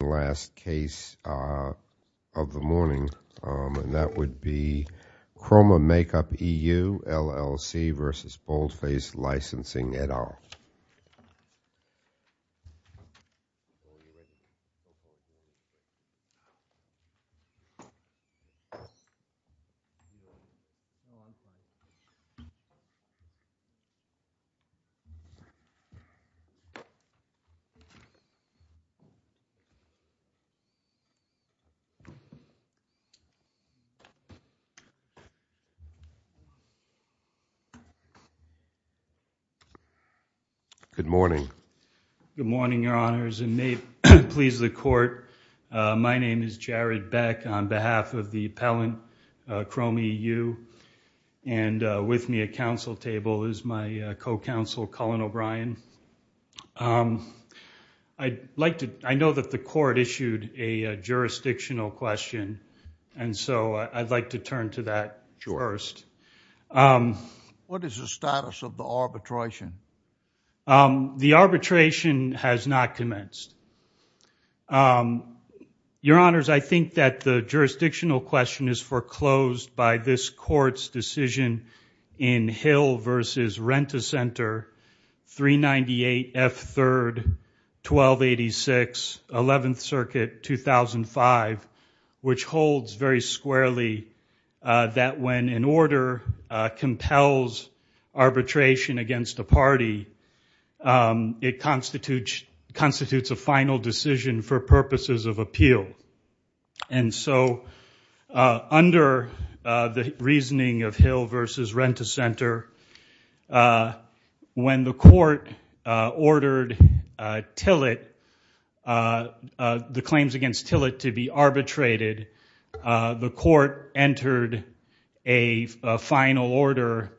The last case of the morning, and that would be Kroma Makeup EU, LLC v. Boldface Licensing, et al. Good morning, Your Honors, and may it please the Court, my name is Jared Beck on behalf of the appellant, Kroma EU, and with me at counsel table is my co-counsel, Colin O'Brien. I'd like to, I know that the Court issued a jurisdictional question, and so I'd like to turn to that first. What is the status of the arbitration? The arbitration has not commenced. Your Honors, I think that the jurisdictional question is foreclosed by this Court's decision in Hill v. Rent-A-Center, 398 F. 3rd, 1286, 11th Circuit, 2005, which holds very squarely that when an order compels arbitration against a party, it constitutes a final decision for purposes of appeal. And so, under the reasoning of Hill v. Rent-A-Center, when the Court ordered Tillett, the claims against Tillett to be arbitrated, the Court entered a final order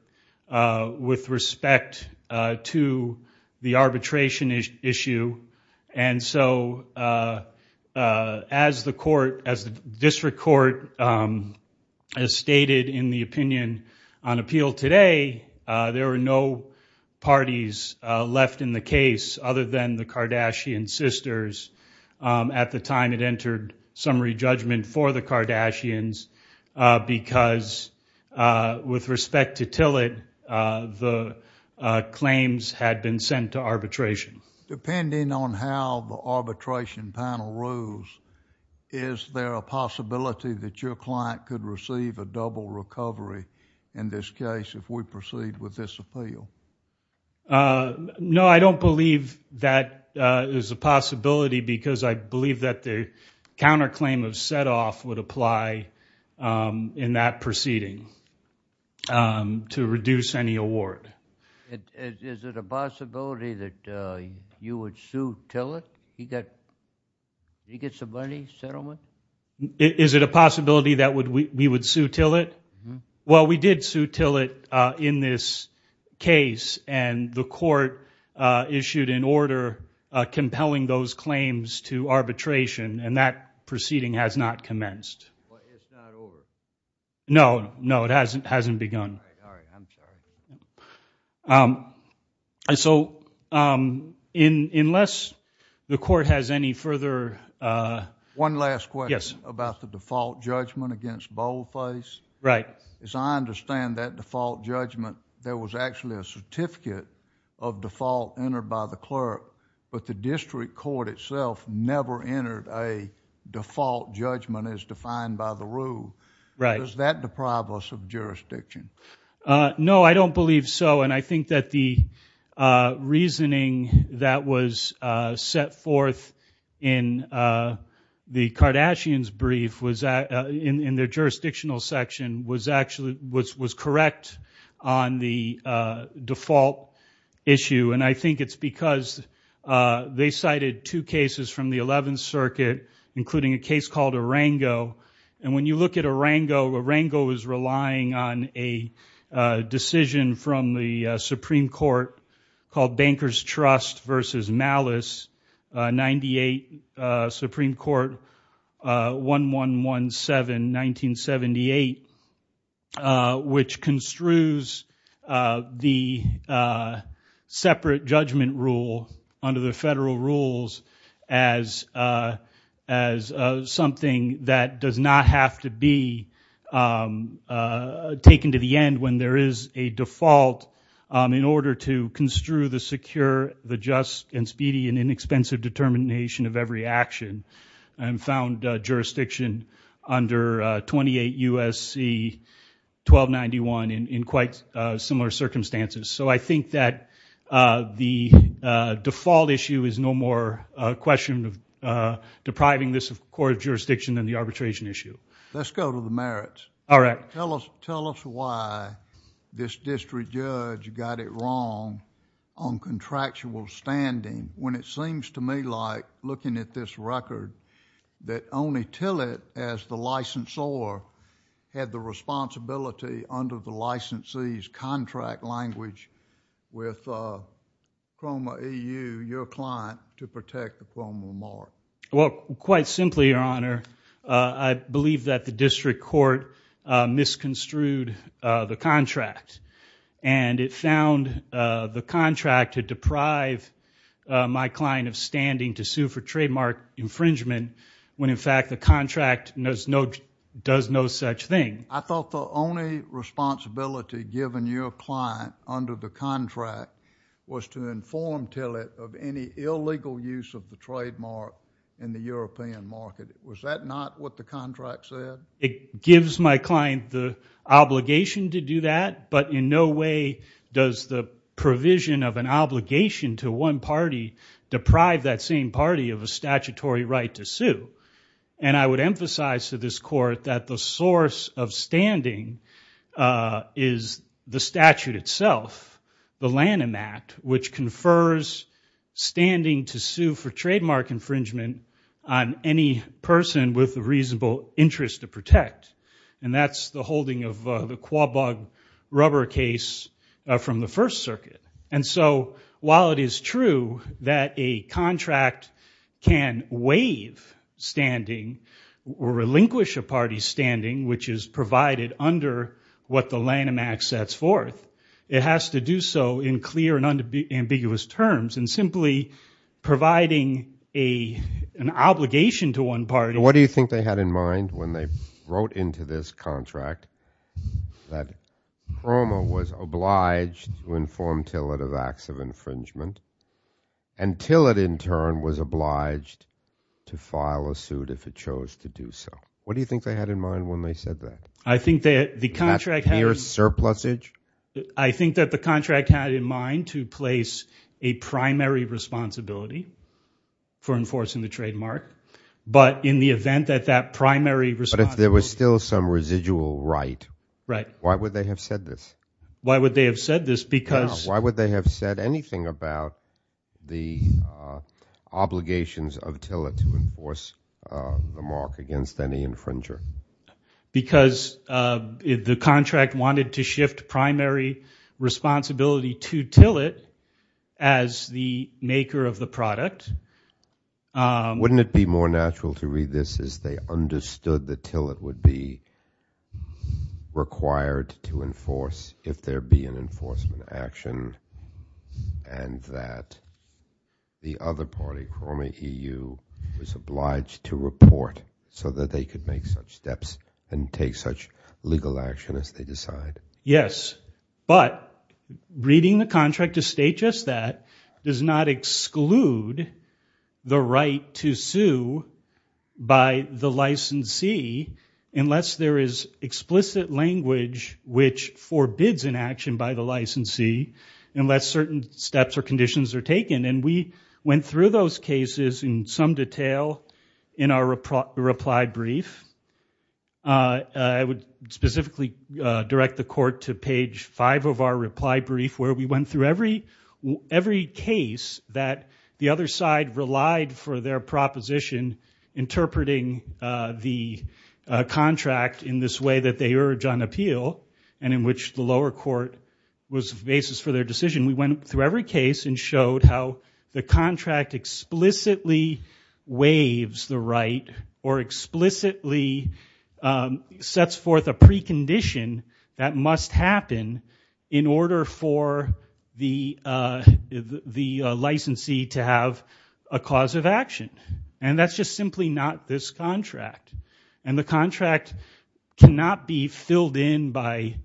with respect to the As the District Court has stated in the opinion on appeal today, there were no parties left in the case other than the Kardashian sisters at the time it entered summary judgment for the Kardashians, because with respect to Tillett, the claims had been sent to arbitration. Depending on how the arbitration panel rules, is there a possibility that your client could receive a double recovery in this case if we proceed with this appeal? No, I don't believe that is a possibility, because I believe that the counterclaim of set-off would apply in that proceeding to reduce any award. Is it a possibility that you would sue Tillett? He get some money, settlement? Is it a possibility that we would sue Tillett? Well, we did sue Tillett in this case, and the Court issued an order compelling those claims to arbitration, and that proceeding has not commenced. It's not over? No, no, it hasn't begun. All right, I'm sorry. So unless the Court has any further... One last question about the default judgment against Boldface. Right. As I understand that default judgment, there was actually a certificate of default entered by the clerk, but the District Court itself never entered a default judgment as defined by the rule. Right. Is that the problems of jurisdiction? No, I don't believe so, and I think that the reasoning that was set forth in the Kardashians brief in their jurisdictional section was correct on the default issue, and I think it's because they cited two cases from the Eleventh Circuit, including a case called Larango. Larango is relying on a decision from the Supreme Court called Banker's Trust versus Malice, 98, Supreme Court, 1117, 1978, which construes the separate judgment rule under the federal rules as something that does not have to be taken to the end when there is a default in order to construe the secure, the just, and speedy and inexpensive determination of every action, and found jurisdiction under 28 U.S.C. 1291 in quite similar circumstances. I think that the default issue is no more a question of depriving this court of jurisdiction than the arbitration issue. Let's go to the merits. Tell us why this district judge got it wrong on contractual standing when it seems to me like looking at this record that only Tillett as the licensor had the responsibility under the licensee's contract language with Cromer EU, your client, to protect the Cromer mark. Well, quite simply, Your Honor, I believe that the district court misconstrued the contract, and it found the contract to deprive my client of standing to sue for trademark infringement when, in fact, the contract does no such thing. I thought the only responsibility given your client under the contract was to inform Tillett of any illegal use of the trademark in the European market. Was that not what the contract said? It gives my client the obligation to do that, but in no way does the provision of an obligation to one party deprive that same party of a statutory right to sue, and I would emphasize to this court that the source of standing is the statute itself, the Lanham Act, which confers standing to sue for trademark infringement on any person with a reasonable interest to protect, and that's the holding of the Quabag rubber case from the First Circuit. And so, while it is true that a contract can waive standing or relinquish a party's standing, which is provided under what the Lanham Act sets forth, it has to do so in clear and ambiguous terms, and simply providing an obligation to one party. What do you think they had in mind when they wrote into this contract that Cromer was obliged to inform Tillett of acts of infringement, and Tillett in turn was obliged to file a suit if it chose to do so? What do you think they had in mind when they said that? I think that the contract had in mind to place a primary responsibility for enforcing the trademark, but in the event that that primary responsibility... But if there was still some residual right, why would they have said this? Why would they have said this? Because... Why would they have said anything about the obligations of Tillett to enforce the mark against any infringer? Because the contract wanted to shift primary responsibility to Tillett as the maker of the product. Wouldn't it be more natural to read this as they understood that Tillett would be required to enforce if there be an enforcement action, and that the other party, Cromer EU, was obliged to report so that they could make such steps and take such legal action as they decide? Yes, but reading the contract to state just that does not exclude the right to sue by the licensee unless there is explicit language which forbids an action by the licensee unless certain steps or conditions are taken. And we went through those cases in some detail in our reply brief. I would specifically direct the court to page five of our reply brief where we went through every case that the other side relied for their proposition interpreting the contract in this way that they urge on appeal and in which the lower court was the basis for their decision. We went through every case and showed how the contract explicitly waives the right or explicitly sets forth a precondition that must happen in order for the licensee to have a cause of action. And that's just simply not this contract. And the contract cannot be filled in by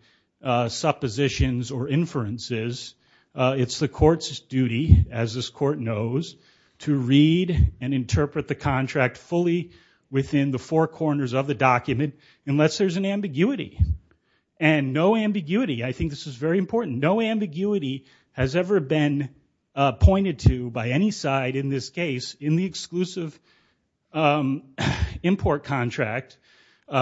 suppositions or inferences. It's the court's duty, as this court knows, to read and interpret the contract fully within the four corners of the document unless there's an ambiguity. And no ambiguity, I think this is very important, no ambiguity has ever been pointed to by any side in this case in the exclusive import contract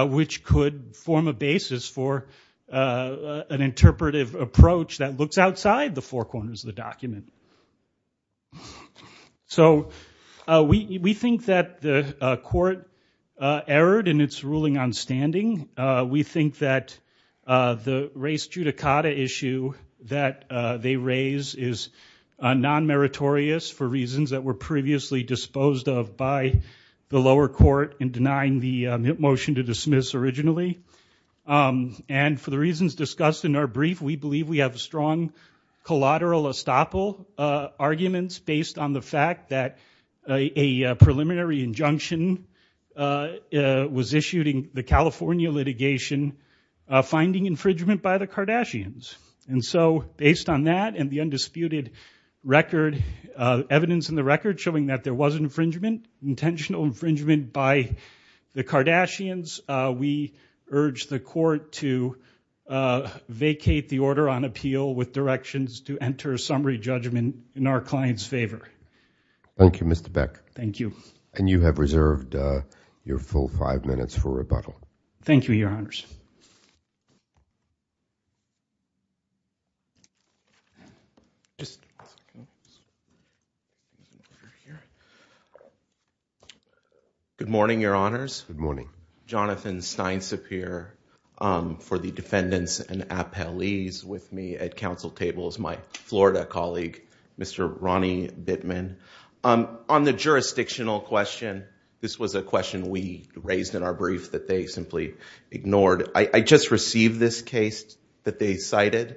which could form a basis for an interpretive approach that looks outside the four corners of the document. So we think that the court erred in its ruling on standing. We think that the race judicata issue that they raise is non-meritorious for reasons that were previously disposed of by the lower court in denying the motion to dismiss originally. And for the reasons discussed in our brief, we believe we have a strong collateral estoppel arguments based on the fact that a preliminary injunction was issued in the California litigation finding infringement by the Kardashians. And so based on that and the undisputed record, evidence in the record showing that there was infringement, intentional infringement by the Kardashians, we urge the court to enter a summary judgment in our client's favor. Thank you, Mr. Beck. Thank you. And you have reserved your full five minutes for rebuttal. Thank you, Your Honors. Good morning, Your Honors. Good morning. Jonathan Steinsapir for the defendants and appellees with me at council tables. My Florida colleague, Mr. Ronnie Bittman. On the jurisdictional question, this was a question we raised in our brief that they simply ignored. I just received this case that they cited.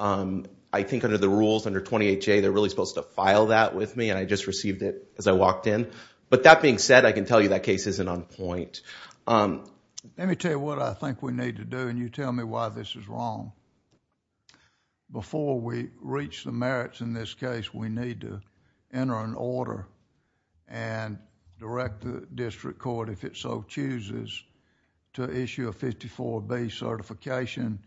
I think under the rules, under 28J, they're really supposed to file that with me. And I just received it as I walked in. But that being said, I can tell you that case isn't on point. Let me tell you what I think we need to do and you tell me why this is wrong. Before we reach the merits in this case, we need to enter an order and direct the district court if it so chooses to issue a 54B certification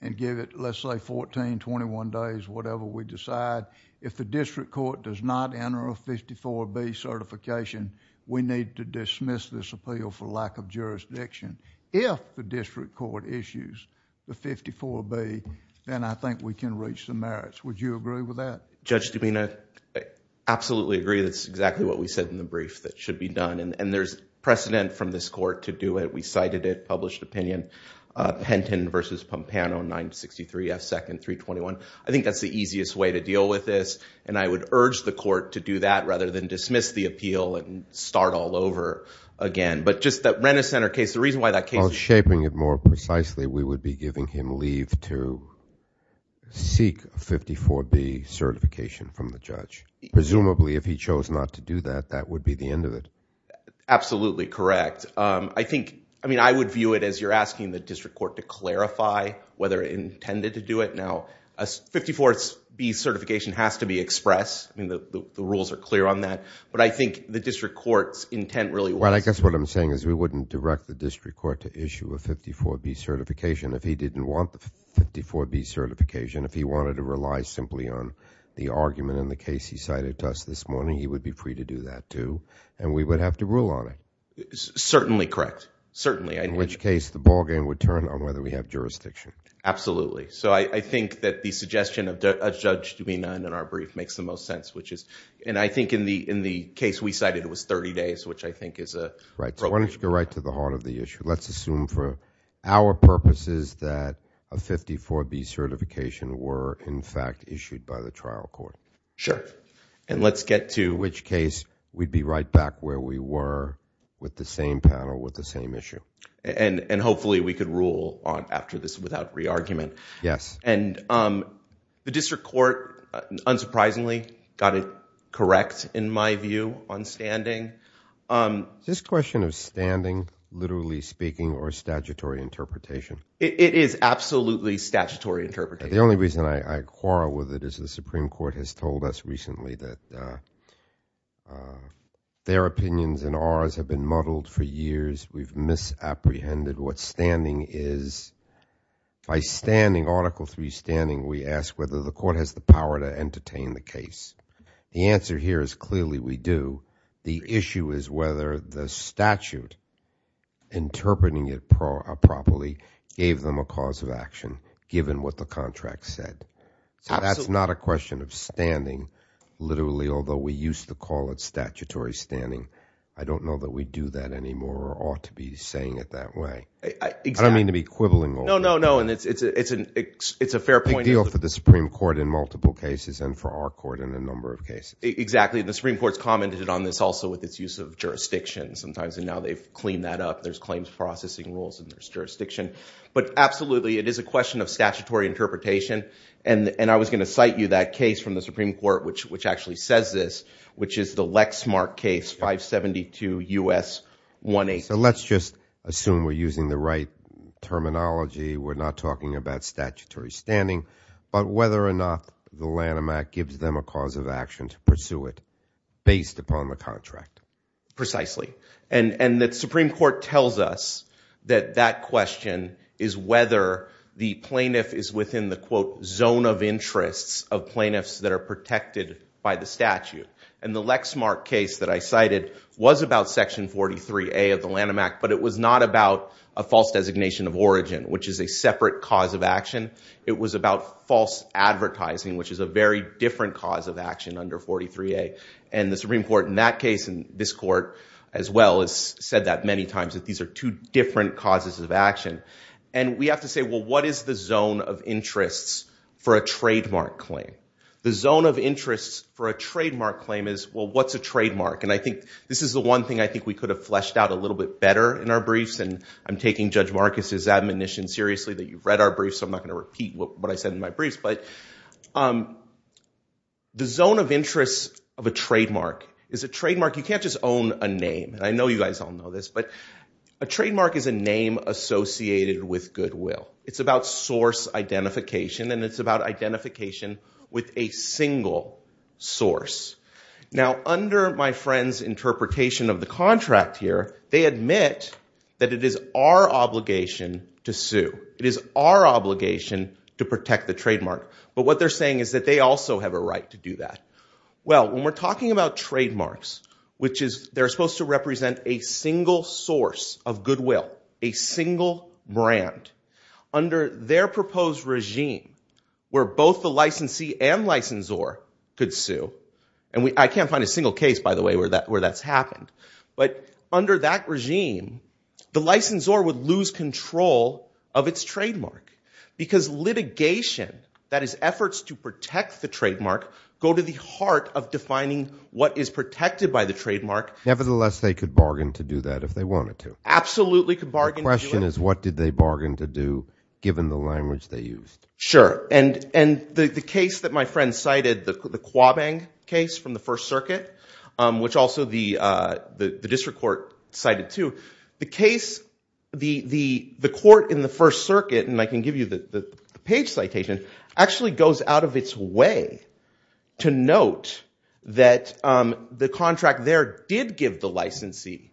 and give it, let's say, 14, 21 days, whatever we decide. If the district court does not enter a 54B certification, we need to dismiss this appeal for lack of jurisdiction. If the district court issues the 54B, then I think we can reach the merits. Would you agree with that? Judge Dubina, I absolutely agree. That's exactly what we said in the brief that should be done. And there's precedent from this court to do it. We cited it, published opinion. Penton v. Pompano, 963 F. 2nd, 321. I think that's the easiest way to deal with this. And I would urge the court to do that rather than dismiss the appeal and start all over again. But just that Renner Center case, the reason why that case... While shaping it more precisely, we would be giving him leave to seek a 54B certification from the judge. Presumably, if he chose not to do that, that would be the end of it. Absolutely correct. I think, I mean, I would view it as you're asking the district court to clarify whether it intended to do it. Now, a 54B certification has to be expressed. I mean, the rules are clear on that. But I think the district court's intent really was... Well, I guess what I'm saying is we wouldn't direct the district court to issue a 54B certification if he didn't want the 54B certification. If he wanted to rely simply on the argument in the case he cited to us this morning, he would be free to do that too. And we would have to rule on it. Certainly correct. Certainly. In which case, the ballgame would turn on whether we have jurisdiction. Absolutely. So I think that the suggestion of a judge to be none in our brief makes the most sense, and I think in the case we cited, it was 30 days, which I think is a... Right. So why don't you go right to the heart of the issue. Let's assume for our purposes that a 54B certification were, in fact, issued by the trial court. Sure. And let's get to... In which case, we'd be right back where we were with the same panel with the same issue. And hopefully we could rule on after this without re-argument. Yes. And the district court, unsurprisingly, got it correct, in my view, on standing. This question of standing, literally speaking, or statutory interpretation... It is absolutely statutory interpretation. The only reason I quarrel with it is the Supreme Court has told us recently that their opinions and ours have been muddled for years. We've misapprehended what standing is. By standing, Article III standing, we ask whether the court has the power to entertain the case. The answer here is clearly we do. The issue is whether the statute, interpreting it properly, gave them a cause of action, given what the contract said. Absolutely. So that's not a question of standing, literally, although we used to call it statutory standing. I don't know that we do that anymore or ought to be saying it that way. I don't mean to be quibbling over it. No, no, no. And it's a fair point... A big deal for the Supreme Court in multiple cases and for our court in a number of cases. Exactly. And the Supreme Court's commented on this also with its use of jurisdiction sometimes. And now they've cleaned that up. There's claims processing rules and there's jurisdiction. But absolutely, it is a question of statutory interpretation. And I was going to cite you that case from the Supreme Court which actually says this, which is the Lexmark case, 572 U.S. 18... So let's just assume we're using the right terminology. We're not talking about statutory standing. But whether or not the Lanham Act gives them a cause of action to pursue it, based upon the contract. Precisely. And the Supreme Court tells us that that question is whether the plaintiff is within the, quote, of plaintiffs that are protected by the statute. And the Lexmark case that I cited was about Section 43A of the Lanham Act. But it was not about a false designation of origin, which is a separate cause of action. It was about false advertising, which is a very different cause of action under 43A. And the Supreme Court in that case and this court as well has said that many times, that these are two different causes of action. And we have to say, well, what is the zone of interests for a trademark claim? The zone of interest for a trademark claim is, well, what's a trademark? And I think this is the one thing I think we could have fleshed out a little bit better in our briefs. And I'm taking Judge Marcus's admonition seriously that you've read our briefs. So I'm not going to repeat what I said in my briefs. But the zone of interest of a trademark is a trademark. You can't just own a name. And I know you guys all know this. But a trademark is a name associated with goodwill. It's about source identification. And it's about identification with a single source. Now, under my friend's interpretation of the contract here, they admit that it is our obligation to sue. It is our obligation to protect the trademark. But what they're saying is that they also have a right to do that. Well, when we're talking about trademarks, which is, they're supposed to represent a single source of goodwill, a single brand. Under their proposed regime, where both the licensee and licensor could sue. And I can't find a single case, by the way, where that's happened. But under that regime, the licensor would lose control of its trademark. Because litigation, that is efforts to protect the trademark, go to the heart of defining what is protected by the trademark. Nevertheless, they could bargain to do that if they wanted to. Absolutely could bargain. The question is, what did they bargain to do, given the language they used? Sure. And the case that my friend cited, the Quabang case from the First Circuit, which also the district court cited too. The case, the court in the First Circuit, and I can give you the page citation, actually goes out of its way to note that the contract there did give the licensee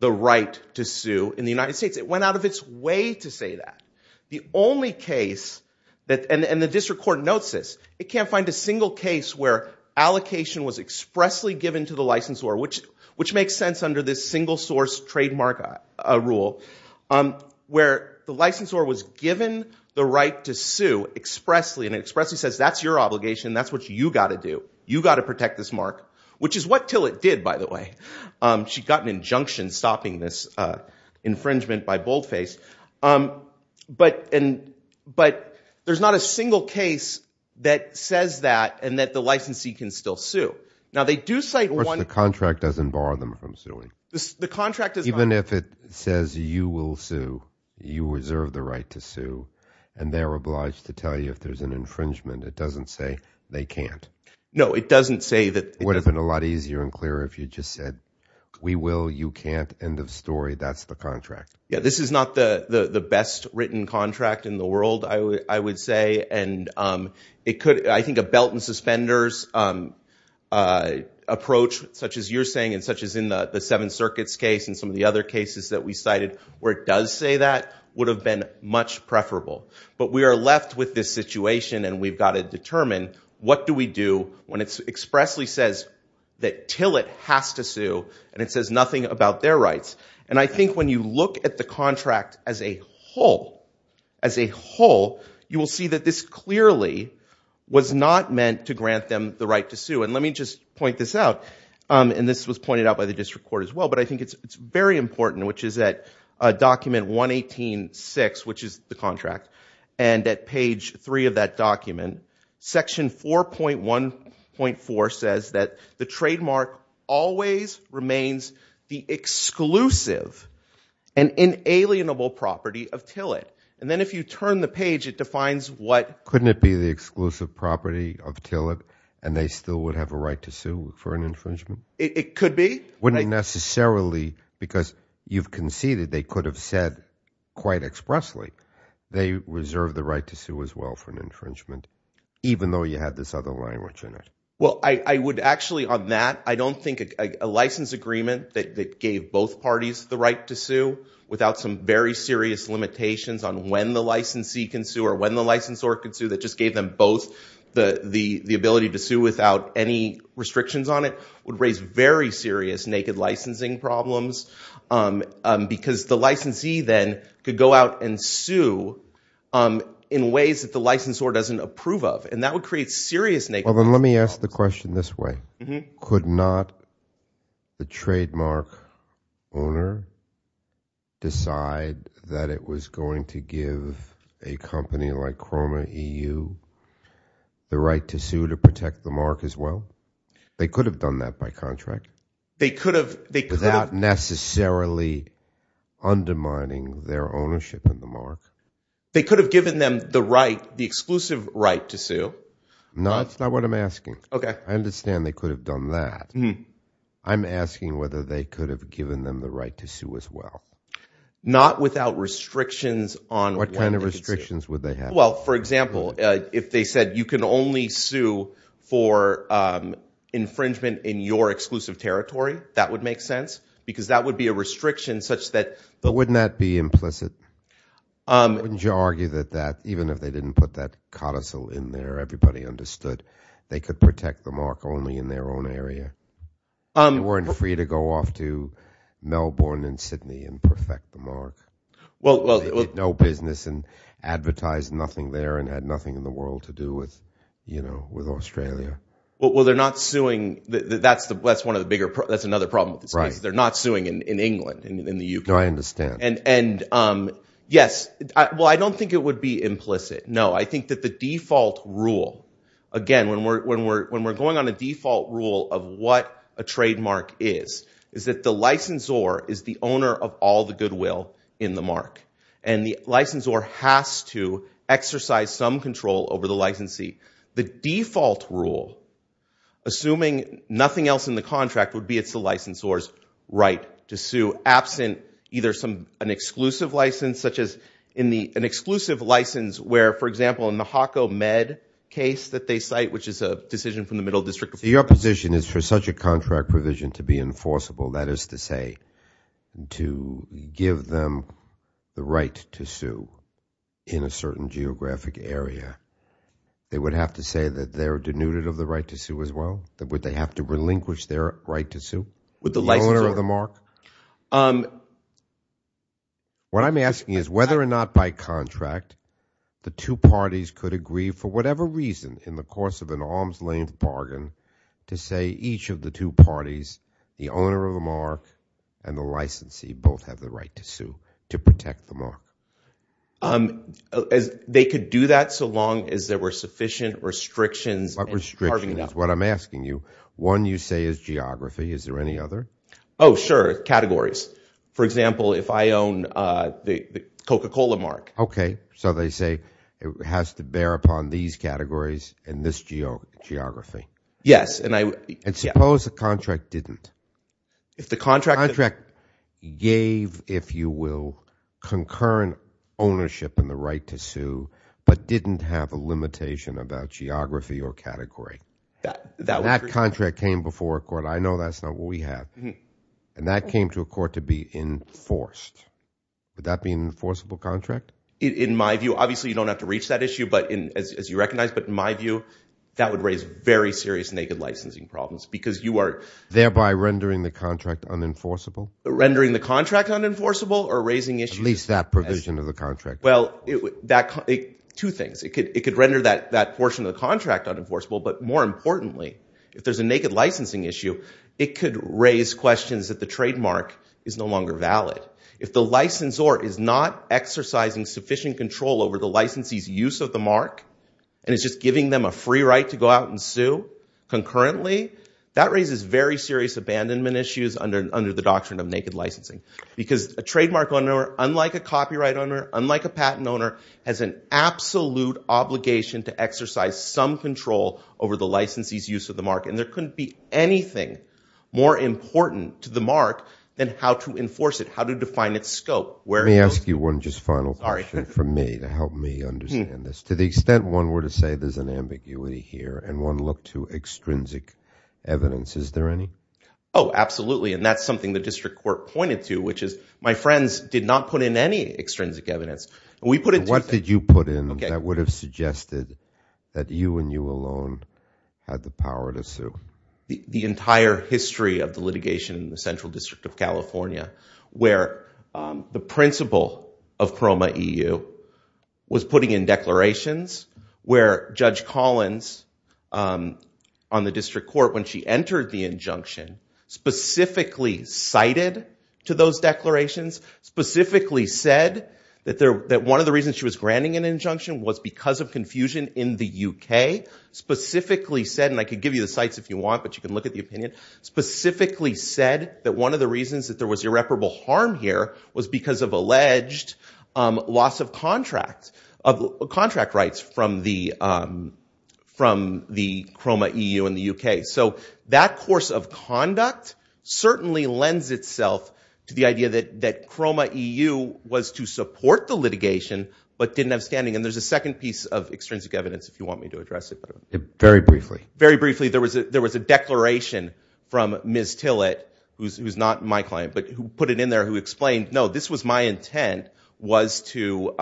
the right to sue in the United States. It went out of its way to say that. The only case, and the district court notes this, it can't find a single case where allocation was expressly given to the licensor. Which makes sense under this single source trademark rule. Where the licensor was given the right to sue expressly. And it expressly says, that's your obligation. That's what you got to do. You got to protect this mark. Which is what Tillett did, by the way. She got an injunction stopping this infringement by boldface. But there's not a single case that says that and that the licensee can still sue. Now, they do cite one- Of course, the contract doesn't bar them from suing. The contract is- Even if it says, you will sue, you reserve the right to sue. And they're obliged to tell you if there's an infringement. It doesn't say they can't. No, it doesn't say that- Would have been a lot easier and clearer if you just said, we will, you can't, end of story. That's the contract. Yeah, this is not the best written contract in the world, I would say. And it could, I think a belt and suspenders approach, such as you're saying and such as in the Seven Circuits case and some of the other cases that we cited where it does say that, would have been much preferable. But we are left with this situation and we've got to determine, what do we do when it expressly says that Tillett has to sue and it says nothing about their rights? And I think when you look at the contract as a whole, as a whole, you will see that this clearly was not meant to grant them the right to sue. And let me just point this out. And this was pointed out by the district court as well. But I think it's very important, which is that document 118.6, which is the contract and at page three of that document, section 4.1.4 says that the trademark always remains the exclusive and inalienable property of Tillett. And then if you turn the page, it defines what- Couldn't it be the exclusive property of Tillett and they still would have a right to sue for an infringement? It could be. Wouldn't it necessarily, because you've conceded, they could have said quite expressly, they reserve the right to sue as well for an infringement, even though you had this other language in it? Well, I would actually on that, I don't think a license agreement that gave both parties the right to sue without some very serious limitations on when the licensee can sue or when the licensor can sue, that just gave them both the ability to sue without any restrictions on it, would raise very serious naked licensing problems. Because the licensee then could go out and sue in ways that the licensor doesn't approve of. And that would create serious- Well, then let me ask the question this way. Could not the trademark owner decide that it was going to give a company like Chroma EU the right to sue to protect the mark as well? They could have done that by contract. They could have- Without necessarily undermining their ownership of the mark. They could have given them the right, the exclusive right to sue. No, that's not what I'm asking. Okay. I understand they could have done that. I'm asking whether they could have given them the right to sue as well. Not without restrictions on- What kind of restrictions would they have? Well, for example, if they said you can only sue for infringement in your exclusive territory, that would make sense. Because that would be a restriction such that- Wouldn't that be implicit? Wouldn't you argue that that, even if they didn't put that codicil in there, everybody understood they could protect the mark only in their own area? They weren't free to go off to Melbourne and Sydney and perfect the mark. No business and advertised nothing there and had nothing in the world to do with Australia. Well, they're not suing. That's another problem with this case. They're not suing in England, in the UK. No, I understand. Yes. Well, I don't think it would be implicit. No, I think that the default rule, of what a trademark is, is that the licensor is the owner of all the goodwill in the mark. And the licensor has to exercise some control over the licensee. The default rule, assuming nothing else in the contract, would be it's the licensor's right to sue absent either an exclusive license, such as an exclusive license where, for example, in the HACO Med case that they cite, which is a decision from the Middle District- Your position is for such a contract provision to be enforceable, that is to say, to give them the right to sue in a certain geographic area, they would have to say that they're denuded of the right to sue as well? Would they have to relinquish their right to sue? With the licensor- The owner of the mark? What I'm asking is whether or not by contract, the two parties could agree for whatever reason in the course of an arm's-length bargain to say each of the two parties, the owner of the mark and the licensee, both have the right to sue to protect the mark. They could do that so long as there were sufficient restrictions- What restrictions? What I'm asking you, one you say is geography. Is there any other? Oh, sure. Categories. For example, if I own the Coca-Cola mark- So they say it has to bear upon these categories and this geography? Yes. And suppose the contract didn't? If the contract- The contract gave, if you will, concurrent ownership and the right to sue, but didn't have a limitation about geography or category. That contract came before a court. I know that's not what we have. And that came to a court to be enforced. Would that be an enforceable contract? In my view, obviously, you don't have to reach that issue as you recognize, but in my view, that would raise very serious naked licensing problems because you are- Thereby rendering the contract unenforceable? Rendering the contract unenforceable or raising issues? At least that provision of the contract. Well, two things. It could render that portion of the contract unenforceable, but more importantly, if there's a naked licensing issue, it could raise questions that the trademark is no longer valid. If the licensor is not exercising sufficient control over the licensee's use of the mark and is just giving them a free right to go out and sue concurrently, that raises very serious abandonment issues under the doctrine of naked licensing. Because a trademark owner, unlike a copyright owner, unlike a patent owner, has an absolute obligation to exercise some control over the licensee's use of the mark. And there couldn't be anything more important to the mark than how to enforce it. How to define its scope. Let me ask you one just final question for me to help me understand this. To the extent one were to say there's an ambiguity here and one look to extrinsic evidence, is there any? Oh, absolutely. And that's something the district court pointed to, which is my friends did not put in any extrinsic evidence. We put it- What did you put in that would have suggested that you and you alone had the power to sue? The entire history of the litigation in the Central District of California where the principal of PROMA-EU was putting in declarations, where Judge Collins on the district court when she entered the injunction specifically cited to those declarations, specifically said that one of the reasons she was granting an injunction was because of confusion in the UK, specifically said, and I could give you the sites if you want, but you can look at the opinion, specifically said that one of the reasons that there was irreparable harm here was because of alleged loss of contract rights from the PROMA-EU in the UK. So that course of conduct certainly lends itself to the idea that PROMA-EU was to support the litigation but didn't have standing. And there's a second piece of extrinsic evidence if you want me to address it. Very briefly. Very briefly. There was a declaration from Ms. Tillett, who's not my client, but who put it in there, who explained, no, this was my intent was to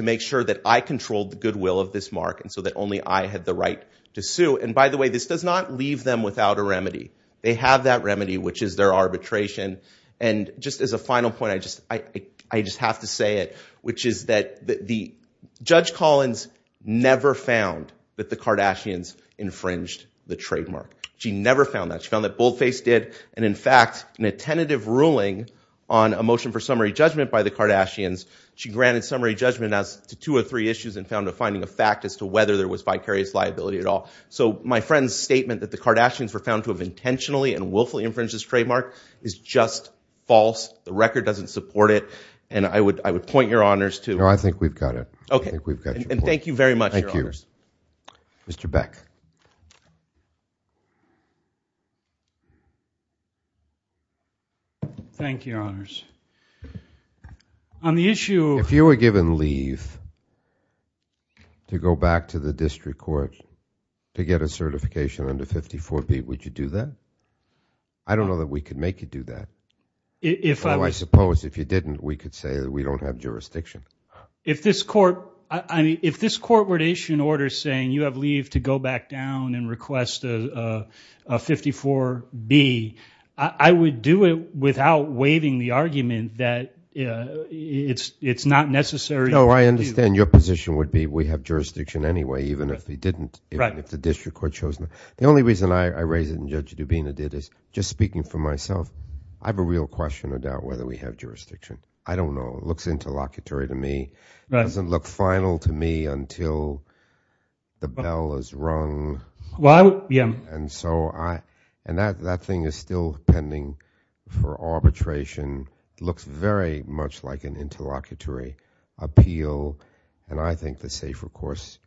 make sure that I controlled the goodwill of this mark and so that only I had the right to sue. And by the way, this does not leave them without a remedy. They have that remedy, which is their arbitration. And just as a final point, I just have to say it, the Judge Collins never found that the Kardashians infringed the trademark. She never found that. She found that Boldface did. And in fact, in a tentative ruling on a motion for summary judgment by the Kardashians, she granted summary judgment as to two or three issues and found a finding of fact as to whether there was vicarious liability at all. So my friend's statement that the Kardashians were found to have intentionally and willfully infringed this trademark is just false. The record doesn't support it. And I would point your honors to... No, I think we've got it. Okay. And thank you very much. Thank you, Mr. Beck. Thank you, your honors. On the issue... If you were given leave to go back to the district court to get a certification under 54B, would you do that? I don't know that we could make you do that. If I... I suppose if you didn't, we could say that we don't have jurisdiction. If this court... If this court were to issue an order saying you have leave to go back down and request a 54B, I would do it without waiving the argument that it's not necessary. No, I understand your position would be we have jurisdiction anyway, even if we didn't, if the district court chose not. The only reason I raised it and Judge Dubina did is just speaking for myself. I have a real question about whether we have jurisdiction. I don't know. It looks interlocutory to me. It doesn't look final to me until the bell is rung. Well, yeah. And that thing is still pending for arbitration. It looks very much like an interlocutory appeal. And I think the safer course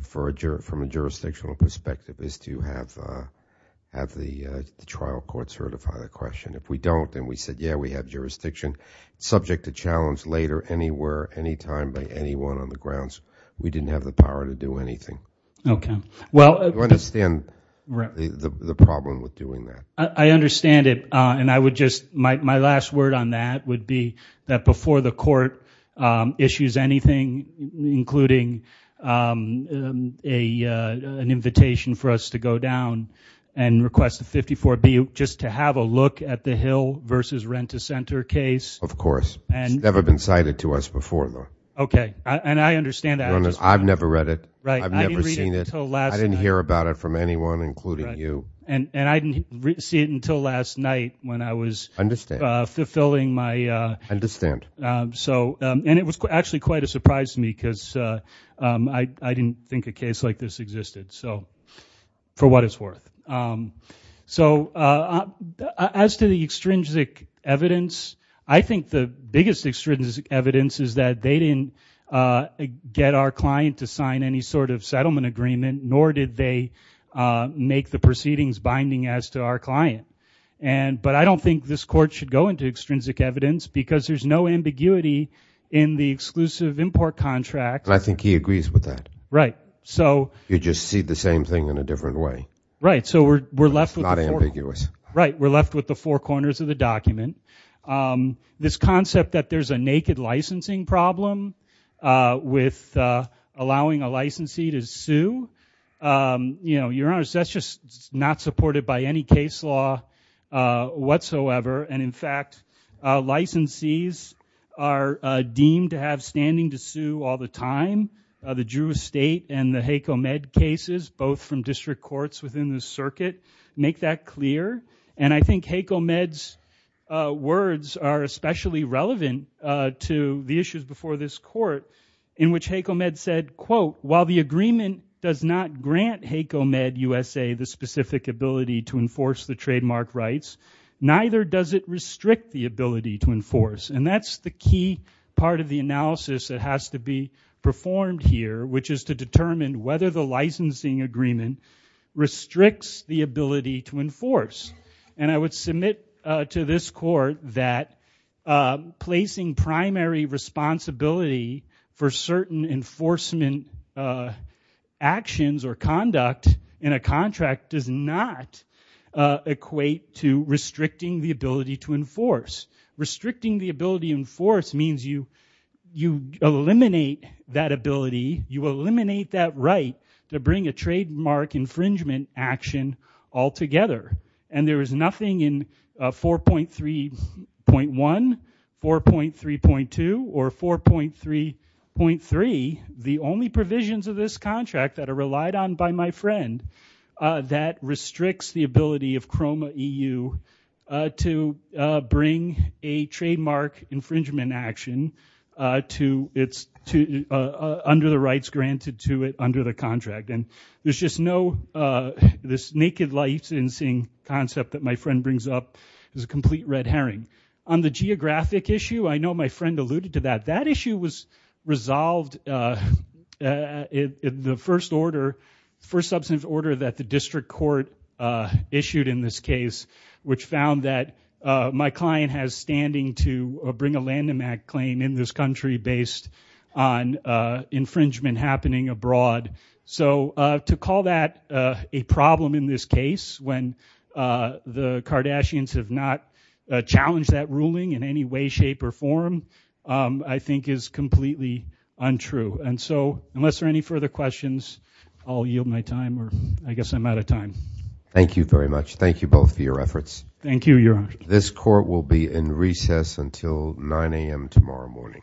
from a jurisdictional perspective is to have the trial court certify the question. If we don't, then we said, yeah, we have jurisdiction. Subject to challenge later, anywhere, anytime by anyone on the grounds. We didn't have the power to do anything. Okay. Well, I understand the problem with doing that. I understand it. And I would just... My last word on that would be that before the court issues anything, including an invitation for us to go down and request a 54B, just to have a look at the Hill versus Rent-a-Center case. Of course. It's never been cited to us before, though. Okay. And I understand that. I've never read it. Right. I've never seen it. I didn't hear about it from anyone, including you. And I didn't see it until last night when I was fulfilling my... I understand. So, and it was actually quite a surprise to me, because I didn't think a case like this existed. So, for what it's worth. So, as to the extrinsic evidence, I think the biggest extrinsic evidence is that they didn't get our client to sign any sort of settlement agreement, nor did they make the proceedings binding as to our client. But I don't think this court should go into extrinsic evidence, because there's no ambiguity in the exclusive import contract. I think he agrees with that. Right. So... You just see the same thing in a different way. Right. So, we're left with... It's not ambiguous. Right. We're left with the four corners of the document. This concept that there's a naked licensing problem with allowing a licensee to sue, you know, Your Honor, that's just not supported by any case law whatsoever. And in fact, licensees are deemed to have standing to sue all the time. The Drew Estate and the HACO-MED cases, both from district courts within the circuit, make that clear. And I think HACO-MED's words are especially relevant to the issues before this court, in which HACO-MED said, quote, while the agreement does not grant HACO-MED USA the specific ability to enforce the trademark rights, neither does it restrict the ability to enforce. And that's the key part of the analysis that has to be performed here, which is to determine whether the licensing agreement restricts the ability to enforce. And I would submit to this court that placing primary responsibility for certain enforcement actions or conduct in a contract does not equate to restricting the ability to enforce. Restricting the ability to enforce means you eliminate that ability, you eliminate that right to bring a trademark infringement action altogether. And there is nothing in 4.3.1, 4.3.2, or 4.3.3, the only provisions of this contract that are relied on by my friend, that restricts the ability of CROMA-EU to bring a trademark infringement action under the rights granted to it under the contract. And there's just no, this naked licensing concept that my friend brings up is a complete red herring. On the geographic issue, I know my friend alluded to that. That issue was resolved in the first order, first substantive order that the district court issued in this case, which found that my client has standing to bring a Lanham Act claim in this country based on infringement happening abroad. So to call that a problem in this case, when the Kardashians have not challenged that ruling in any way, shape, or form, I think is completely untrue. And so unless there are any further questions, I'll yield my time or I guess I'm out of time. Thank you very much. Thank you both for your efforts. Thank you, Your Honor. This court will be in recess until 9 a.m. tomorrow morning.